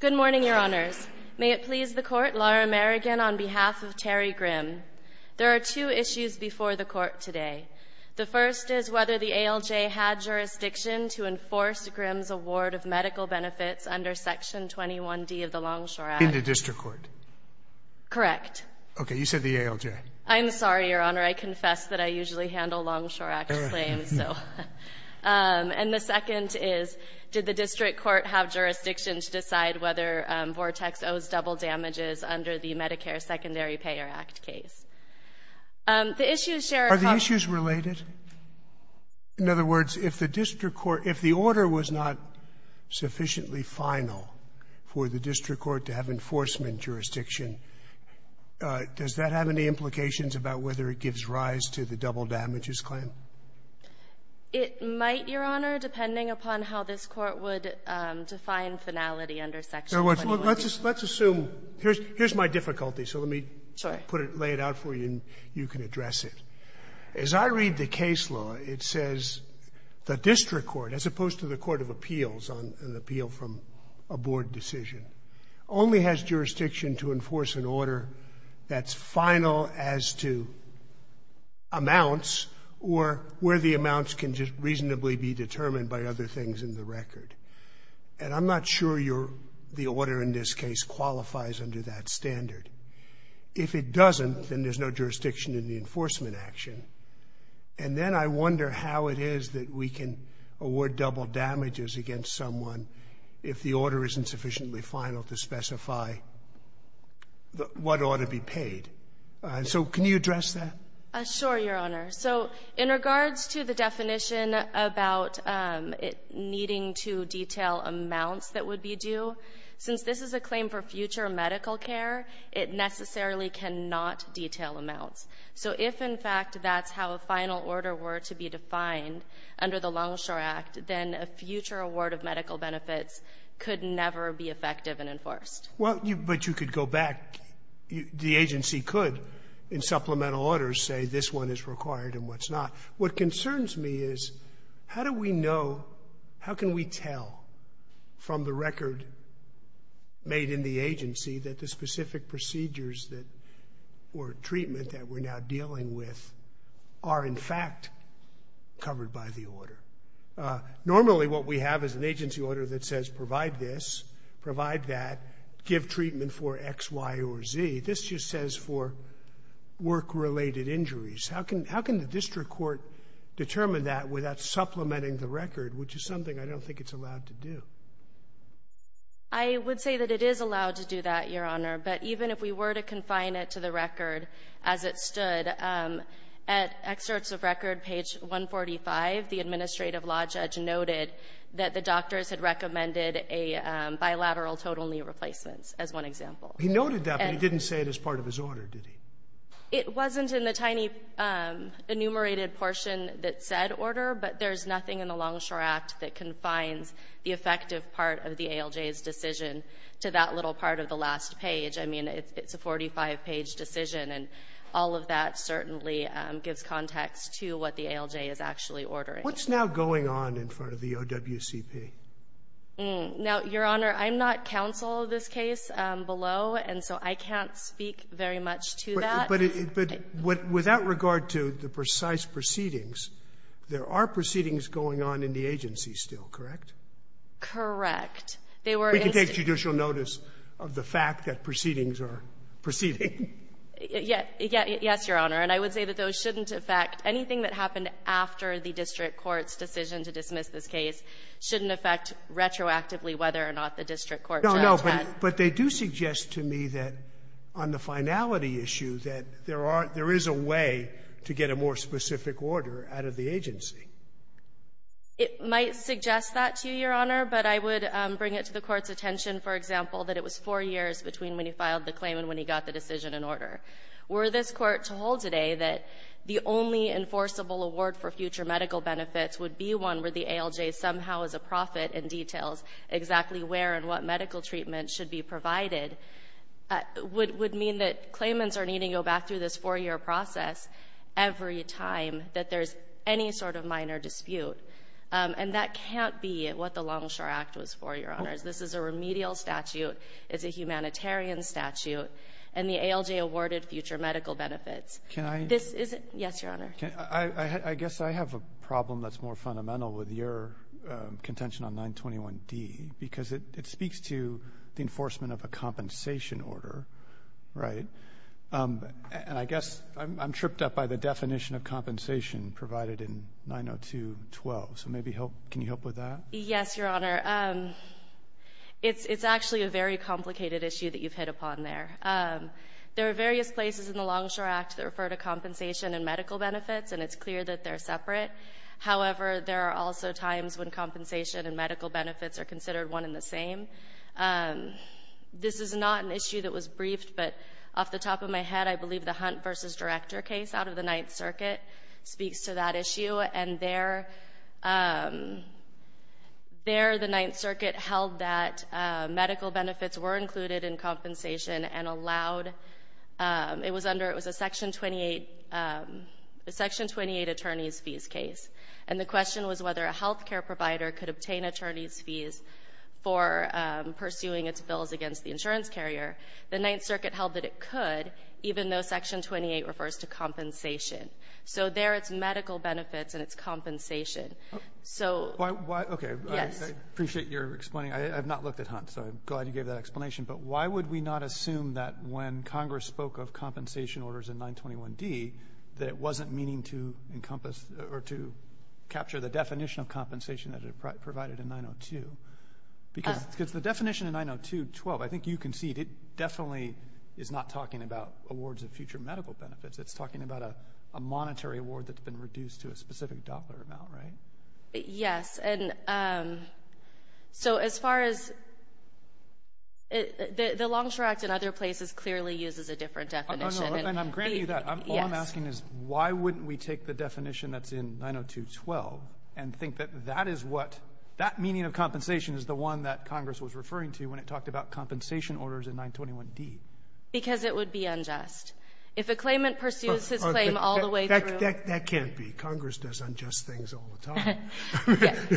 Good morning, Your Honors. May it please the Court, Laura Merrigan on behalf of Terry Grimm. There are two issues before the Court today. The first is whether the ALJ had jurisdiction to enforce Grimm's award of medical benefits under Section 21d of the Longshore Act. In the District Court. Correct. Okay, you said the ALJ. I'm sorry, Your Honor. I confess that I usually handle Longshore Act claims, so. And the second is, did the District Court have jurisdiction to decide whether Vortex owes double damages under the Medicare Secondary Payer Act case? The issues share a common. Are the issues related? In other words, if the District Court, if the order was not sufficiently final for the District Court to have enforcement jurisdiction, does that have any implications about whether it gives rise to the double damages claim? It might, Your Honor, depending upon how this Court would define finality under Section 21d. Let's assume, here's my difficulty, so let me put it, lay it out for you, and you can address it. As I read the case law, it says the District Court, as opposed to the court of appeals on an appeal from a board decision, only has jurisdiction to enforce an order that's final as to amounts or where the amounts can just reasonably be determined by other things in the record. And I'm not sure the order in this case qualifies under that standard. If it doesn't, then there's no jurisdiction in the enforcement action. And then I wonder how it is that we can award double damages against someone if the order isn't sufficiently final to specify what ought to be paid. So can you address that? Sure, Your Honor. So in regards to the definition about it needing to detail amounts that would be due, since this is a claim for future medical care, it necessarily cannot detail amounts. So if, in fact, that's how a final order were to be defined under the Longshore Act, then a future award of medical benefits could never be effective and enforced. Well, but you could go back. The agency could, in supplemental orders, say this one is required and what's not. What concerns me is how do we know, how can we tell from the record made in the agency that the specific procedures or treatment that we're now dealing with are, in fact, covered by the order? Normally what we have is an agency order that says provide this, provide that, give treatment for X, Y, or Z. This just says for work-related injuries. How can the district court determine that without supplementing the record, which is something I don't think it's allowed to do? I would say that it is allowed to do that, Your Honor. But even if we were to confine it to the record as it stood, at excerpts of record page 145, the administrative law judge noted that the doctors had recommended a bilateral total knee replacement, as one example. He noted that, but he didn't say it as part of his order, did he? It wasn't in the tiny enumerated portion that said order, but there's nothing in the Longshore Act that confines the effective part of the ALJ's decision to that little part of the last page. I mean, it's a 45-page decision, and all of that certainly gives context to what the ALJ is actually ordering. What's now going on in front of the OWCP? Now, Your Honor, I'm not counsel of this case below, and so I can't speak very much to that. But without regard to the precise proceedings, there are proceedings going on in the agency still, correct? Correct. They were instituted. We can take judicial notice of the fact that proceedings are proceeding. Yes, Your Honor. And I would say that those shouldn't affect anything that happened after the district court's decision to dismiss this case shouldn't affect retroactively whether or not the district court judged that. But they do suggest to me that on the finality issue that there are — there is a way to get a more specific order out of the agency. It might suggest that to you, Your Honor, but I would bring it to the Court's attention, for example, that it was four years between when he filed the claim and when he got the decision in order. Were this Court to hold today that the only enforceable award for future medical benefits would be one where the ALJ somehow as a profit and details exactly where and what medical treatment should be provided would mean that claimants are needing to go back through this four-year process every time that there's any sort of minor dispute. And that can't be what the Longshore Act was for, Your Honors. This is a remedial statute. It's a humanitarian statute. And the ALJ awarded future medical benefits. Can I — This isn't — yes, Your Honor. I guess I have a problem that's more fundamental with your contention on 921D, because it speaks to the enforcement of a compensation order, right? And I guess I'm tripped up by the definition of compensation provided in 90212. So maybe help — can you help with that? Yes, Your Honor. It's actually a very complicated issue that you've hit upon there. There are various places in the Longshore Act that refer to compensation and medical benefits, and it's clear that they're separate. However, there are also times when compensation and medical benefits are considered one and the same. This is not an issue that was briefed, but off the top of my head, I believe the Hunt v. Director case out of the Ninth Circuit speaks to that issue. And there, the Ninth Circuit held that medical benefits were included in compensation and allowed — it was under — it was a Section 28 — a Section 28 attorney's fees case. And the question was whether a health care provider could obtain attorney's fees for pursuing its bills against the insurance carrier. The Ninth Circuit held that it could, even though Section 28 refers to compensation. So there, it's medical benefits and it's compensation. So — Why — okay. Yes. I appreciate your explaining. I have not looked at Hunt, so I'm glad you gave that explanation. But why would we not assume that when Congress spoke of compensation orders in 921D, that it wasn't meaning to encompass or to capture the definition of compensation that it provided in 902? Because the definition in 902.12, I think you can see, it definitely is not talking about awards of future medical benefits. It's talking about a monetary award that's been reduced to a specific dollar amount, right? Yes. And so as far as — the Longshore Act in other places clearly uses a different definition. No, no. And I'm granting you that. Yes. All I'm asking is why wouldn't we take the definition that's in 902.12 and think that that is what — that meaning of compensation is the one that Congress was referring to when it talked about compensation orders in 921D? Because it would be unjust. If a claimant pursues his claim all the way through — That can't be. Congress does unjust things all the time.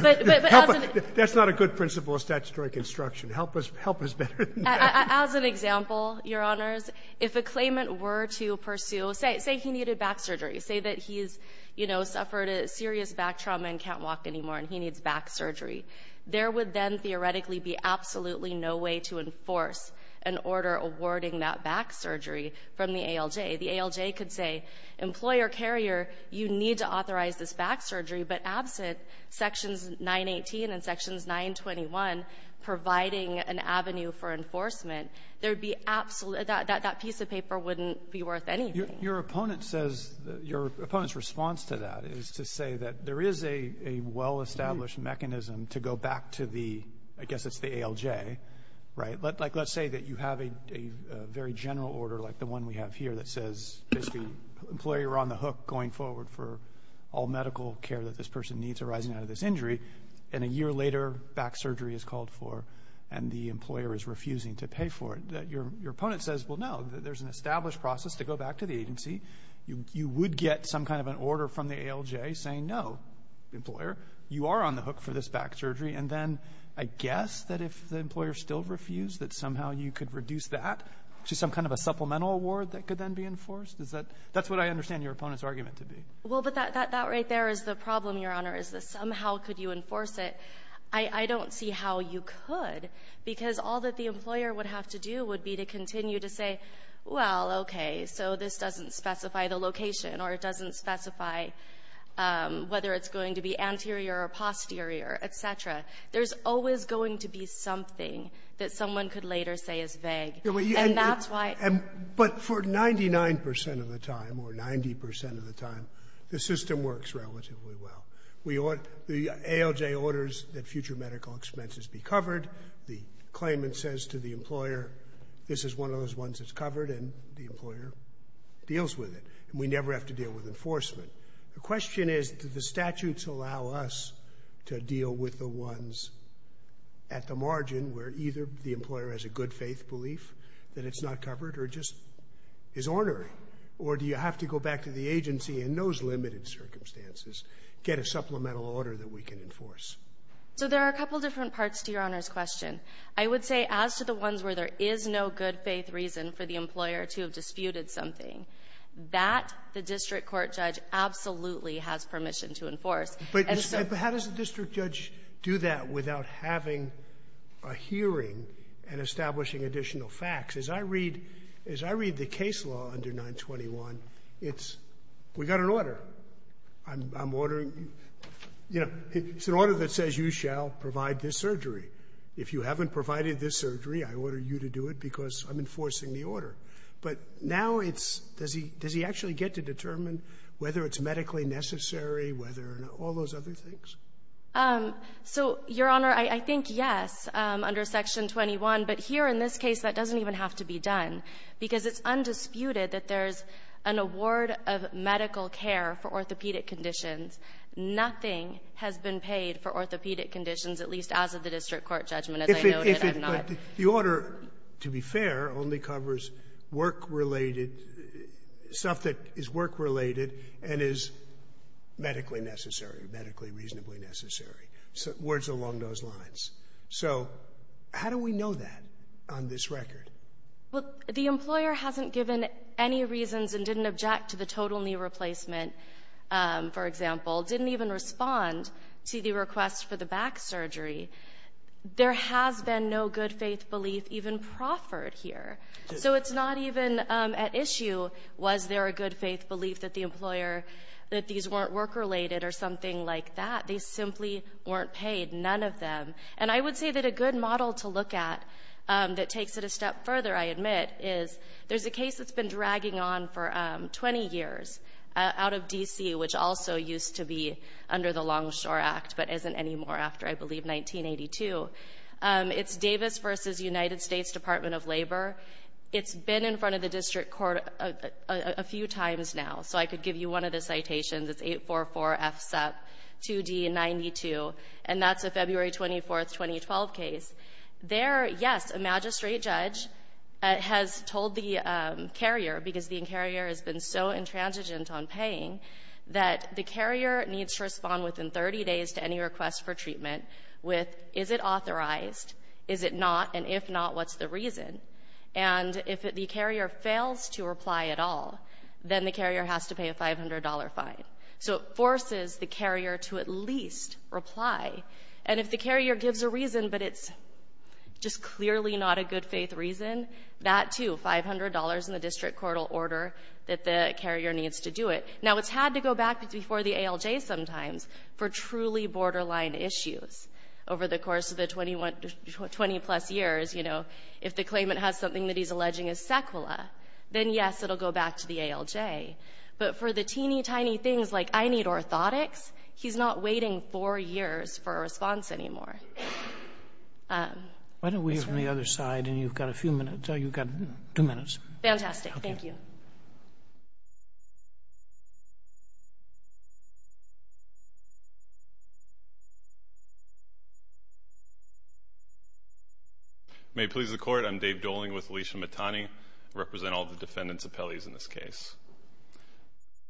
But as an — That's not a good principle of statutory construction. Help us — help us better than that. As an example, Your Honors, if a claimant were to pursue — say he needed back surgery. Say that he's, you know, suffered a serious back trauma and can't walk anymore, and he needs back surgery. There would then theoretically be absolutely no way to enforce an order awarding that back surgery from the ALJ. The ALJ could say, Employer Carrier, you need to authorize this back surgery. But absent Sections 918 and Sections 921 providing an avenue for enforcement, there would be absolutely — that piece of paper wouldn't be worth anything. Your opponent says — your opponent's response to that is to say that there is a well-established mechanism to go back to the — I guess it's the ALJ, right? Like, let's say that you have a very general order like the one we have here that says, basically, Employer, you're on the hook going forward for all medical care that this person needs arising out of this injury. And a year later, back surgery is called for, and the employer is refusing to pay for it. Your opponent says, Well, no, there's an established process to go back to the agency. You would get some kind of an order from the ALJ saying, No, Employer, you are on the hook for this back surgery. And then I guess that if the employer still refused, that somehow you could reduce that to some kind of a supplemental award that could then be enforced? Is that — that's what I understand your opponent's argument to be. Well, but that right there is the problem, Your Honor, is that somehow could you enforce it. I don't see how you could, because all that the employer would have to do would be to continue to say, Well, okay, so this doesn't specify the location or it doesn't specify whether it's going to be anterior or posterior, et cetera. There's always going to be something that someone could later say is vague. And that's why — But for 99 percent of the time, or 90 percent of the time, the system works relatively well. We ought — the ALJ orders that future medical expenses be covered. The claimant says to the employer, This is one of those ones that's covered, and the employer deals with it. And we never have to deal with enforcement. The question is, do the statutes allow us to deal with the ones at the margin where either the employer has a good-faith belief that it's not covered or just is ornery, or do you have to go back to the agency in those limited circumstances, get a supplemental order that we can enforce? So there are a couple different parts to Your Honor's question. I would say, as to the ones where there is no good-faith reason for the employer to have disputed something, that the district court judge absolutely has permission to enforce. And so — But how does the district judge do that without having a hearing and establishing additional facts? As I read — as I read the case law under 921, it's — we got an order. I'm ordering — you know, it's an order that says you shall provide this surgery. If you haven't provided this surgery, I order you to do it because I'm enforcing the order. But now it's — does he — does he actually get to determine whether it's medically necessary, whether — all those other things? So, Your Honor, I think, yes, under Section 21. But here in this case, that doesn't even have to be done, because it's undisputed that there's an award of medical care for orthopedic conditions. Nothing has been paid for orthopedic conditions, at least as of the district court judgment. As I noted, I'm not — But the order, to be fair, only covers work-related — stuff that is work-related and is medically necessary, medically reasonably necessary, words along those lines. So how do we know that on this record? Well, the employer hasn't given any reasons and didn't object to the total knee replacement, for example, didn't even respond to the request for the back surgery. There has been no good-faith belief even proffered here. So it's not even at issue, was there a good-faith belief that the employer — that these weren't work-related or something like that. They simply weren't paid, none of them. And I would say that a good model to look at that takes it a step further, I admit, is there's a case that's been dragging on for 20 years out of D.C., which also used to be under the Longshore Act, but isn't anymore after, I believe, 1982. It's Davis v. United States Department of Labor. It's been in front of the district court a few times now. So I could give you one of the citations. It's 844-FSEP-2D92, and that's a February 24, 2012 case. There, yes, a magistrate judge has told the carrier, because the carrier has been so within 30 days to any request for treatment with, is it authorized, is it not, and if not, what's the reason? And if the carrier fails to reply at all, then the carrier has to pay a $500 fine. So it forces the carrier to at least reply. And if the carrier gives a reason, but it's just clearly not a good-faith reason, that too, $500 in the district court will order that the carrier needs to do it. Now, it's had to go back before the ALJ sometimes for truly borderline issues over the course of the 20-plus years. You know, if the claimant has something that he's alleging is sequela, then, yes, it'll go back to the ALJ. But for the teeny, tiny things like, I need orthotics, he's not waiting four years for a response anymore. That's right. Why don't we hear from the other side, and you've got a few minutes. You've got two minutes. Fantastic. Thank you. May it please the Court, I'm Dave Doling with Alicia Mittani, I represent all the defendants appellees in this case.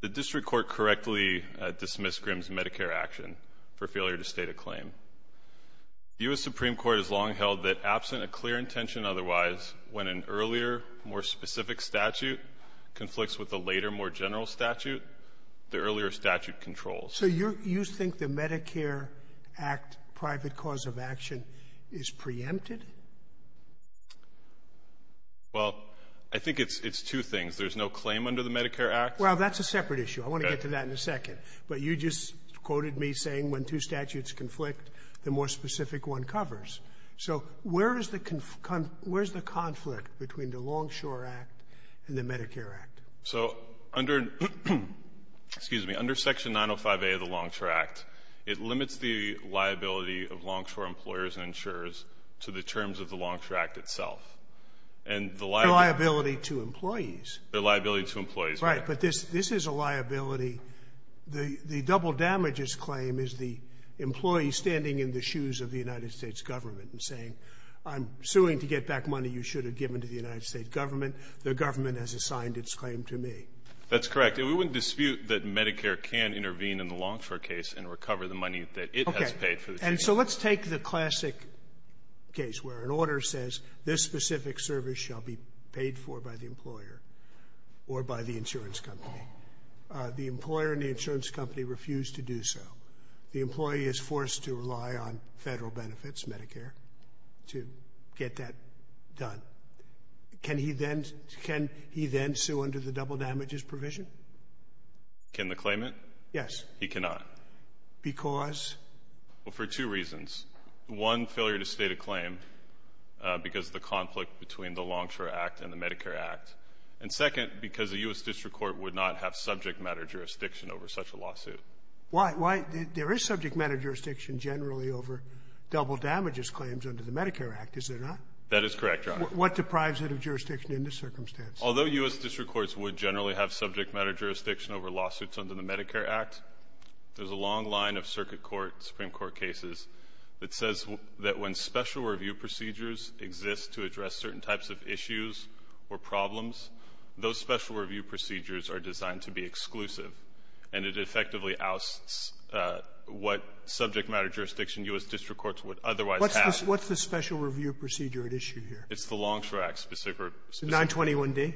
The district court correctly dismissed Grimm's Medicare action for failure to state a claim. The U.S. Supreme Court has long held that absent a clear intention otherwise, when an later, more general statute, the earlier statute controls. So you think the Medicare Act private cause of action is preempted? Well, I think it's two things. There's no claim under the Medicare Act. Well, that's a separate issue. I want to get to that in a second. But you just quoted me saying when two statutes conflict, the more specific one covers. So where is the conflict between the Longshore Act and the Medicare Act? So under Section 905A of the Longshore Act, it limits the liability of longshore employers and insurers to the terms of the Longshore Act itself. And the liability to employees. The liability to employees. Right. But this is a liability. The double damages claim is the employee standing in the shoes of the United States government and saying, I'm suing to get back money you should have given to the United States government. The government has assigned its claim to me. That's correct. And we wouldn't dispute that Medicare can intervene in the longshore case and recover the money that it has paid for the two years. Okay. And so let's take the classic case where an order says this specific service shall be paid for by the employer or by the insurance company. The employer and the insurance company refuse to do so. The employee is forced to rely on Federal benefits, Medicare, to get that done. Can he then sue under the double damages provision? Can the claimant? Yes. He cannot. Because? Well, for two reasons. One, failure to state a claim because of the conflict between the Longshore Act and the Medicare Act. And second, because the U.S. District Court would not have subject matter jurisdiction over such a lawsuit. Why? There is subject matter jurisdiction generally over double damages claims under the Medicare Act, is there not? That is correct, Your Honor. What deprives it of jurisdiction in this circumstance? Although U.S. District Courts would generally have subject matter jurisdiction over lawsuits under the Medicare Act, there's a long line of circuit court, Supreme Court cases that says that when special review procedures exist to address certain types of issues or problems, those special review procedures are designed to be exclusive. And it effectively ousts what subject matter jurisdiction U.S. District Courts would otherwise have. What's the special review procedure at issue here? It's the Longshore Act specific. 921D?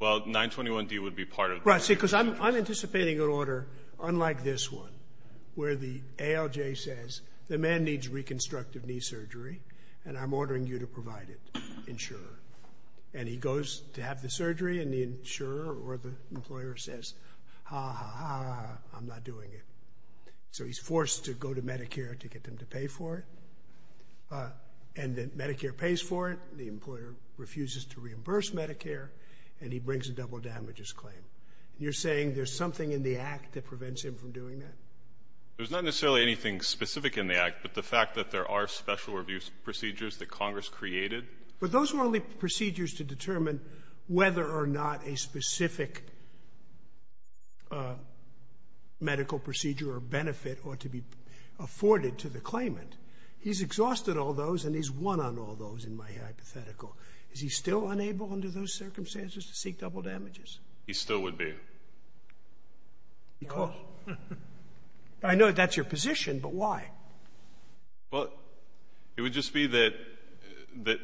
Well, 921D would be part of. Right, see, because I'm anticipating an order unlike this one, where the ALJ says the man needs reconstructive knee surgery and I'm ordering you to provide it, insurer. And he goes to have the surgery and the insurer or the employer says, ha ha ha, I'm not doing it. So he's forced to go to Medicare to get them to pay for it. And then Medicare pays for it. The employer refuses to reimburse Medicare. And he brings a double damages claim. You're saying there's something in the Act that prevents him from doing that? There's not necessarily anything specific in the Act, but the fact that there are special review procedures that Congress created. But those are only procedures to determine whether or not a specific medical procedure or benefit ought to be afforded to the claimant. He's exhausted all those and he's won on all those in my hypothetical. Is he still unable under those circumstances to seek double damages? He still would be. Because I know that's your position, but why? But it would just be that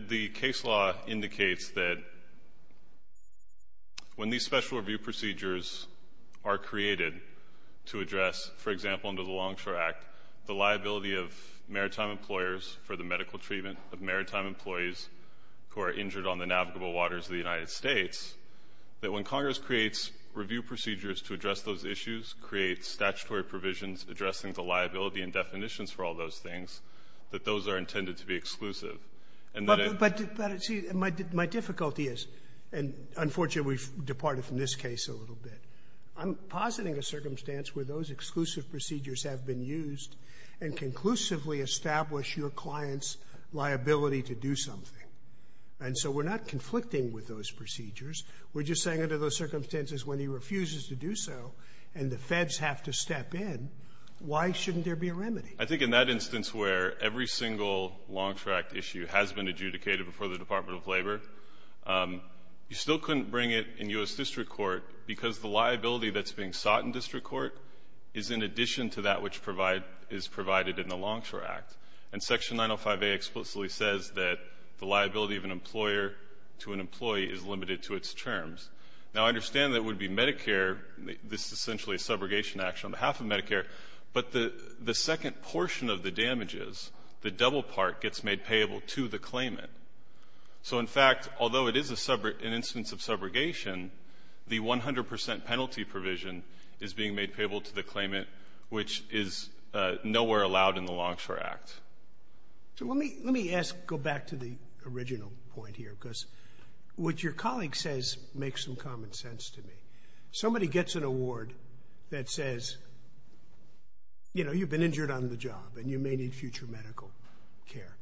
the case law indicates that when these special review procedures are created to address, for example, under the Longshore Act, the liability of maritime employers for the medical treatment of maritime employees who are injured on the navigable waters of the United States, that when Congress creates review procedures to address those issues, creates statutory provisions addressing the liability and definitions for all those things, that those are intended to be exclusive. But my difficulty is, and unfortunately we've departed from this case a little bit, I'm positing a circumstance where those exclusive procedures have been used and conclusively established your client's liability to do something. And so we're not conflicting with those procedures. We're just saying under those circumstances when he refuses to do so and the Feds have to step in, why shouldn't there be a remedy? I think in that instance where every single Longshore Act issue has been adjudicated before the Department of Labor, you still couldn't bring it in U.S. district court because the liability that's being sought in district court is in addition to that which is provided in the Longshore Act. And Section 905A explicitly says that the liability of an employer to an employee is limited to its terms. Now I understand that it would be Medicare, this is essentially a subrogation action on behalf of Medicare, but the second portion of the damages, the double part, gets made payable to the claimant. So in fact, although it is an instance of subrogation, the 100 percent penalty provision is being made payable to the claimant, which is nowhere allowed in the Longshore Act. So let me let me ask, go back to the original point here, because what your colleague says makes some common sense to me. Somebody gets an award that says, you know, you've been injured on the job and you may need future medical care.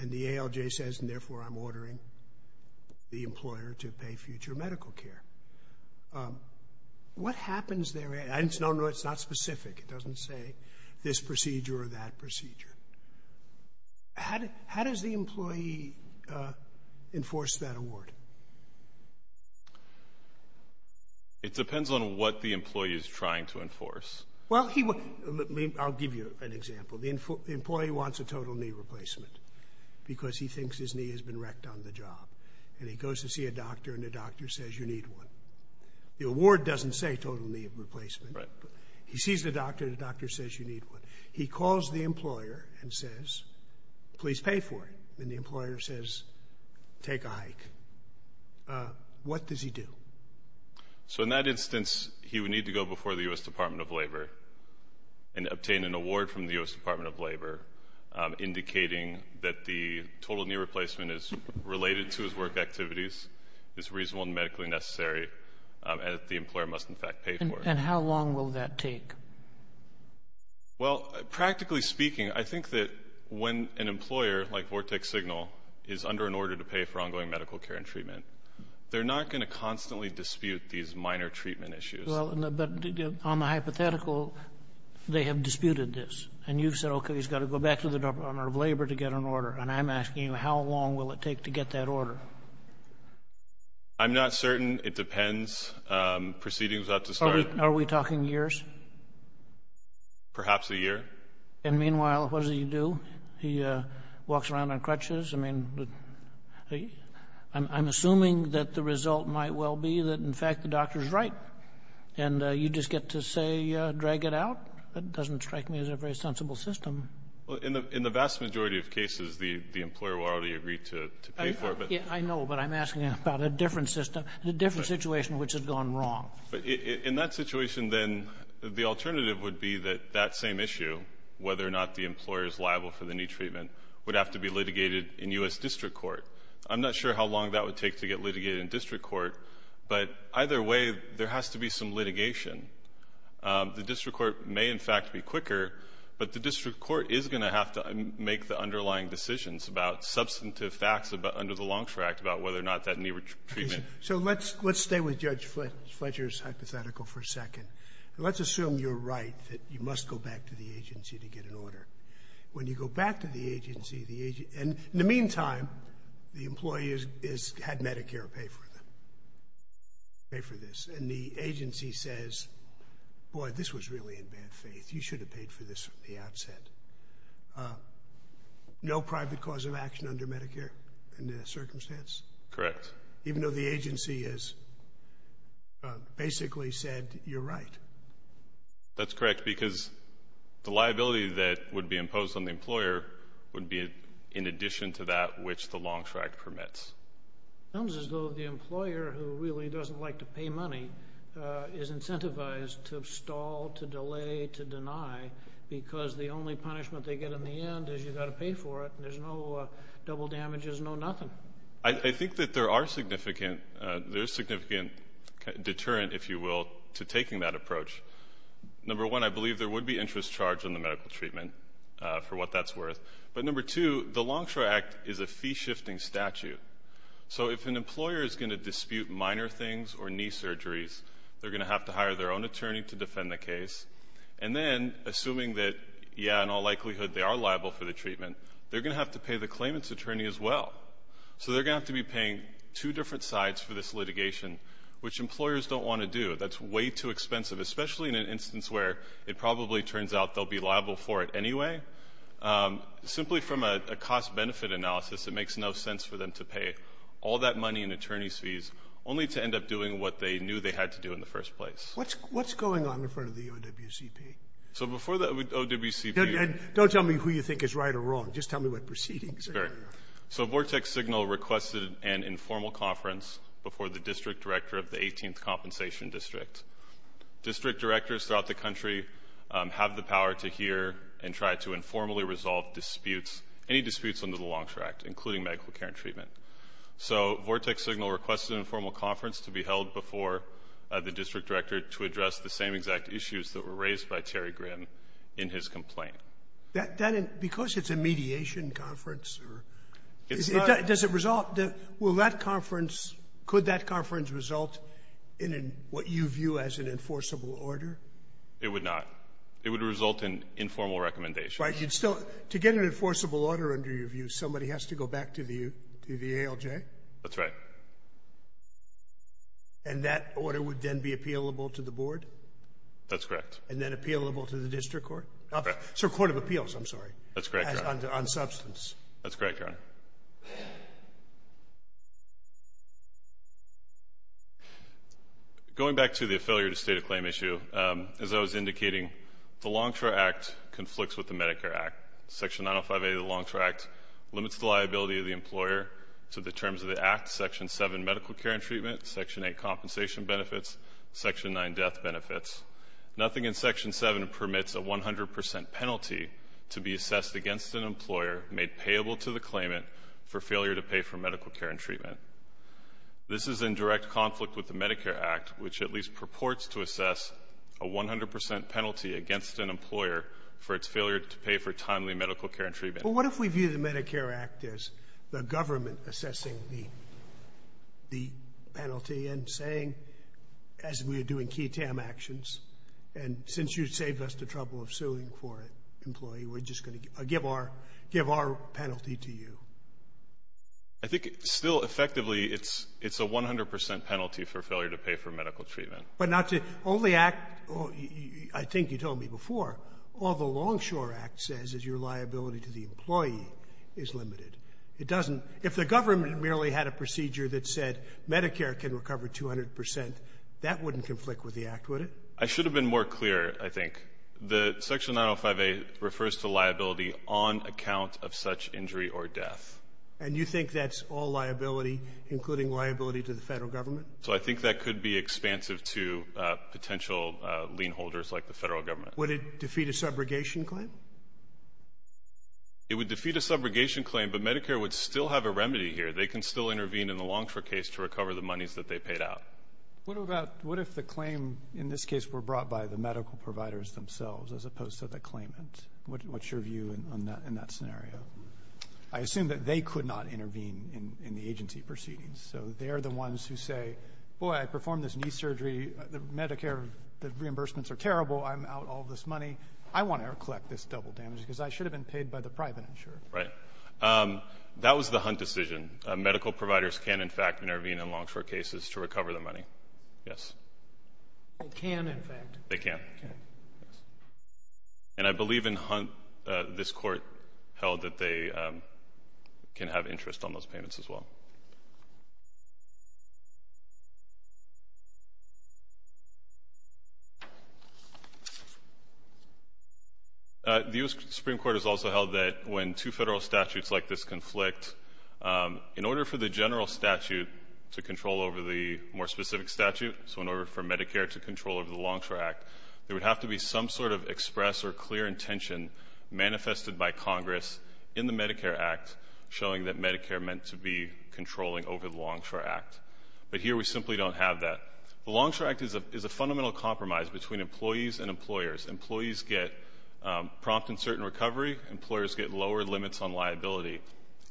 And the ALJ says, and therefore I'm ordering the employer to pay future medical care. What happens there? And it's not specific. It doesn't say this procedure or that procedure. How does the employee enforce that award? It depends on what the employee is trying to enforce. Well, I'll give you an example. The employee wants a total knee replacement because he thinks his knee has been wrecked on the job. And he goes to see a doctor and the doctor says, you need one. The award doesn't say total knee replacement, but he sees the doctor and the doctor says you need one. He calls the employer and says, please pay for it. And the employer says, take a hike. What does he do? So in that instance, he would need to go before the U.S. Department of Labor and obtain an award from the U.S. And the knee replacement is related to his work activities, is reasonable and medically necessary. And the employer must, in fact, pay for it. And how long will that take? Well, practically speaking, I think that when an employer like Vortex Signal is under an order to pay for ongoing medical care and treatment, they're not going to constantly dispute these minor treatment issues. Well, but on the hypothetical, they have disputed this. And you've said, OK, he's got to go back to the Department of Labor to get an order. And I'm asking you, how long will it take to get that order? I'm not certain. It depends. Proceedings have to start. Are we talking years? Perhaps a year. And meanwhile, what does he do? He walks around on crutches. I mean, I'm assuming that the result might well be that, in fact, the doctor's right. And you just get to say, drag it out. That doesn't strike me as a very sensible system. Well, in the vast majority of cases, the employer will already agree to pay for it. I know. But I'm asking about a different system, a different situation which has gone wrong. But in that situation, then, the alternative would be that that same issue, whether or not the employer is liable for the new treatment, would have to be litigated in U.S. district court. I'm not sure how long that would take to get litigated in district court. But either way, there has to be some litigation. The district court may, in fact, be quicker, but the district court is going to have to make the underlying decisions about substantive facts under the Longstreet Act about whether or not that new treatment. So let's stay with Judge Fletcher's hypothetical for a second. Let's assume you're right, that you must go back to the agency to get an order. When you go back to the agency, and in the meantime, the employee has had Medicare pay for them, pay for this. And the agency says, boy, this was really in bad faith. You should have paid for this from the outset. No private cause of action under Medicare in that circumstance? Correct. Even though the agency has basically said, you're right. That's correct, because the liability that would be imposed on the employer would be, in addition to that, which the Longstreet Act permits. It sounds as though the employer, who really doesn't like to pay money, is incentivized to stall, to delay, to deny, because the only punishment they get in the end is you've got to pay for it. There's no double damages, no nothing. I think that there are significant, there's significant deterrent, if you will, to taking that approach. Number one, I believe there would be interest charged in the medical treatment for what that's worth. But number two, the Longstreet Act is a fee-shifting statute. So if an employer is going to dispute minor things or knee surgeries, they're going to have to hire their own attorney to defend the case. And then, assuming that, yeah, in all likelihood they are liable for the treatment, they're going to have to pay the claimant's attorney as well. So they're going to have to be paying two different sides for this litigation, which employers don't want to do. That's way too expensive, especially in an instance where it probably turns out they'll be liable for it anyway. Simply from a cost-benefit analysis, it makes no sense for them to pay all that money in attorney's fees, only to end up doing what they knew they had to do in the first place. What's going on in front of the OWCP? So before the OWCP... Don't tell me who you think is right or wrong. Just tell me what proceedings are. So Vortex Signal requested an informal conference before the district director of the 18th Compensation District. District directors throughout the country have the power to hear and try to informally resolve disputes, any disputes under the Longstreet Act, including medical care and treatment. So Vortex Signal requested an informal conference to be held before the district director to address the same exact issues that were raised by Terry Grimm in his complaint. That didn't — because it's a mediation conference or — It's not — Does it result — will that conference — could that conference result in a — what you view as an enforceable order? It would not. It would result in informal recommendation. Right, you'd still — to get an enforceable order under your view, somebody has to go back to the ALJ? That's right. And that order would then be appealable to the board? That's correct. And then appealable to the district court? So court of appeals, I'm sorry. That's correct, Your Honor. On substance. That's correct, Your Honor. Going back to the failure to state a claim issue, as I was indicating, the Longstreet Act conflicts with the Medicare Act. Section 905A of the Longstreet Act limits the liability of the employer to the terms of the act, section 7, medical care and treatment, section 8, compensation benefits, section 9, death benefits. Nothing in section 7 permits a 100 percent penalty to be assessed against an employer for failure to pay for medical care and treatment. This is in direct conflict with the Medicare Act, which at least purports to assess a 100 percent penalty against an employer for its failure to pay for timely medical care and treatment. But what if we view the Medicare Act as the government assessing the penalty and saying, as we are doing QI-TAM actions, and since you saved us the trouble of suing for it, employee, we're just going to give our penalty to you. I think still effectively it's a 100 percent penalty for failure to pay for medical treatment. But not to only act, I think you told me before, all the Longshore Act says is your liability to the employee is limited. It doesn't — if the government merely had a procedure that said Medicare can recover 200 percent, that wouldn't conflict with the act, would it? I should have been more clear, I think. The Section 905A refers to liability on account of such injury or death. And you think that's all liability, including liability to the federal government? So I think that could be expansive to potential lien holders like the federal government. Would it defeat a subrogation claim? It would defeat a subrogation claim, but Medicare would still have a remedy here. They can still intervene in the Longshore case to recover the monies that they paid out. What about — what if the claim in this case were brought by the medical providers themselves as opposed to the claimant? What's your view on that in that scenario? I assume that they could not intervene in the agency proceedings, so they're the ones who say, boy, I performed this knee surgery, the Medicare — the reimbursements are terrible, I'm out all this money, I want to collect this double damage because I should have been paid by the private insurer. Right. That was the Hunt decision. Medical providers can, in fact, intervene in Longshore cases to recover the money. Yes. They can, in fact. They can. And I believe in Hunt, this Court held that they can have interest on those payments as well. The U.S. Supreme Court has also held that when two federal statutes like this conflict, in order for the general statute to control over the more specific statute, so in order for Medicare to control over the Longshore Act, there would have to be some sort of express or clear intention manifested by Congress in the Medicare Act showing that Medicare meant to be controlling over the Longshore Act. But here we simply don't have that. The Longshore Act is a fundamental compromise between employees and employers. Employees get prompt and certain recovery. Employers get lower limits on liability.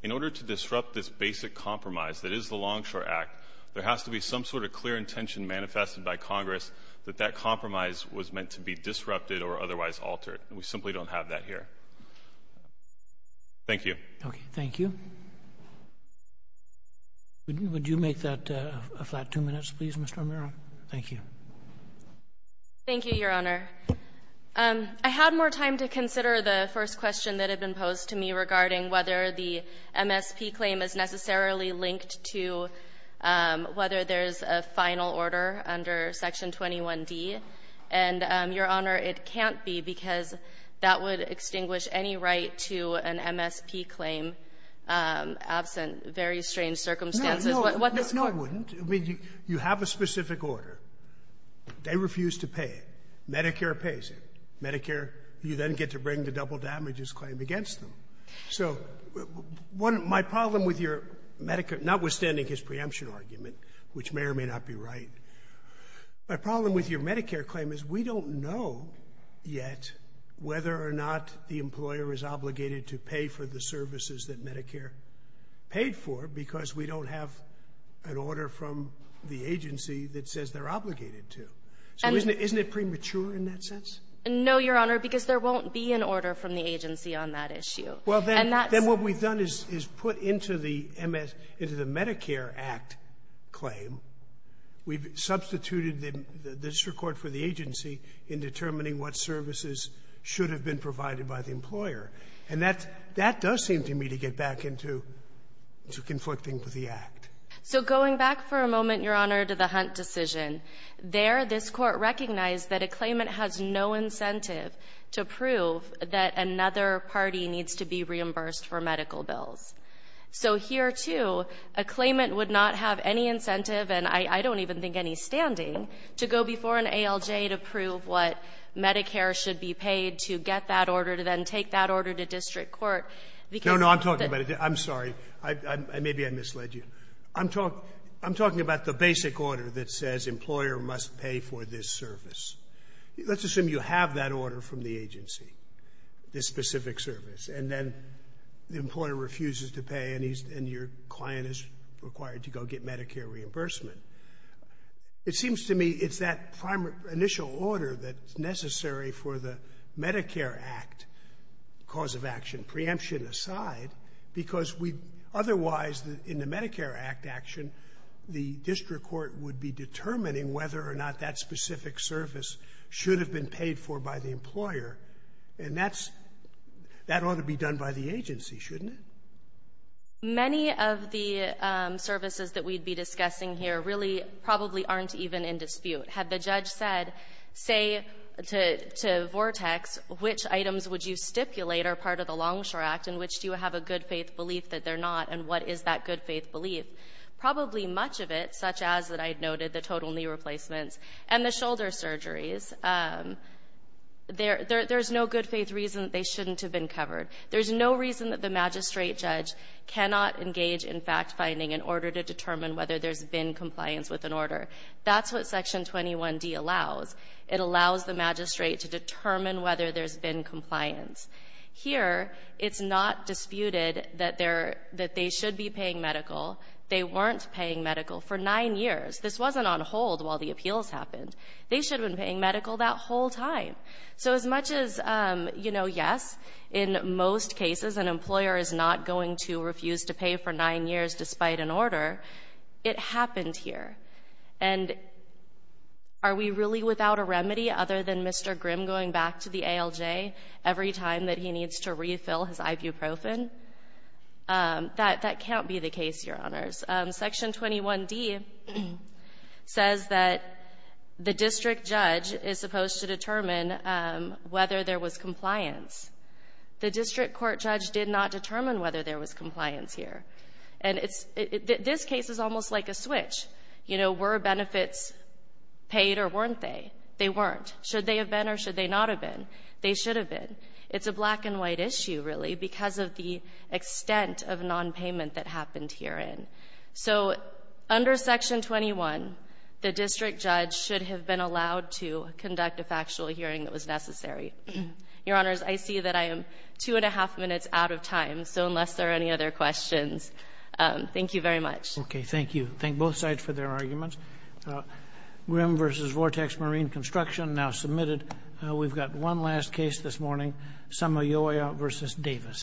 In order to disrupt this basic compromise that is the Longshore Act, there has to be some sort of clear intention manifested by Congress that that compromise was meant to be disrupted or otherwise altered. We simply don't have that here. Thank you. Okay. Thank you. Would you make that a flat two minutes, please, Mr. O'Meara? Thank you. Thank you, Your Honor. I had more time to consider the first question that had been posed to me regarding whether the MSP claim is necessarily linked to whether there's a final order under Section 21d. And, Your Honor, it can't be because that would extinguish any right to an MSP claim absent very strange circumstances. What's the point? No, it wouldn't. I mean, you have a specific order. They refuse to pay it. Medicare pays it. Medicare, you then get to bring the double damages claim against them. So my problem with your Medicare, notwithstanding his preemption argument, which may or may not be right, my problem with your Medicare claim is we don't know yet whether or not the employer is obligated to pay for the services that Medicare paid for because we don't have an order from the agency that says they're obligated to. So isn't it premature in that sense? No, Your Honor, because there won't be an order from the agency on that issue. Well, then what we've done is put into the Medicare Act claim. We've substituted the district court for the agency in determining what services should have been provided by the employer. And that does seem to me to get back into conflicting with the Act. So going back for a moment, Your Honor, to the Hunt decision, there this Court recognized that a claimant has no incentive to prove that another party needs to be reimbursed for medical bills. So here, too, a claimant would not have any incentive, and I don't even think any standing, to go before an ALJ to prove what Medicare should be paid to get that order to then take that order to district court because of the — No, no. I'm talking about it. I'm sorry. Maybe I misled you. I'm talking about the basic order that says employer must pay for this service. Let's assume you have that order from the agency, this specific service, and then the employer refuses to pay and your client is required to go get Medicare reimbursement. It seems to me it's that initial order that's necessary for the Medicare Act cause of action, preemption aside, because we — otherwise, in the Medicare Act action, the district court would be determining whether or not that specific service should have been paid for by the employer. And that's — that ought to be done by the agency, shouldn't it? Many of the services that we'd be discussing here really probably aren't even in dispute. Had the judge said, say, to Vortex, which items would you stipulate are part of the Longshore Act and which do you have a good-faith belief that they're not, and what is that good-faith belief, probably much of it, such as that I noted, the total knee replacements and the shoulder surgeries, there's no good-faith reason that they shouldn't have been covered. There's no reason that the magistrate judge cannot engage in fact-finding in order to determine whether there's been compliance with an order. That's what Section 21d allows. It allows the magistrate to determine whether there's been compliance. Here, it's not disputed that they're — that they should be paying medical. They weren't paying medical for nine years. This wasn't on hold while the appeals happened. They should have been paying medical that whole time. So as much as, you know, yes, in most cases, an employer is not going to refuse to pay for nine years despite an order, it happened here. And are we really without a remedy other than Mr. Grimm going back to the ALJ every time that he needs to refill his ibuprofen? That can't be the case, Your Honors. Section 21d says that the district judge is supposed to determine whether there was compliance. The district court judge did not determine whether there was compliance here. And it's — this case is almost like a switch. You know, were benefits paid or weren't they? They weren't. Should they have been or should they not have been? They should have been. It's a black-and-white issue, really, because of the extent of nonpayment that happened herein. So under Section 21, the district judge should have been allowed to conduct a factual hearing that was necessary. Your Honors, I see that I am two and a half minutes out of time. So unless there are any other questions, thank you very much. Okay, thank you. Thank both sides for their arguments. Grimm v. Vortex Marine Construction now submitted. We've got one last case this morning, Samayoya v. Davis.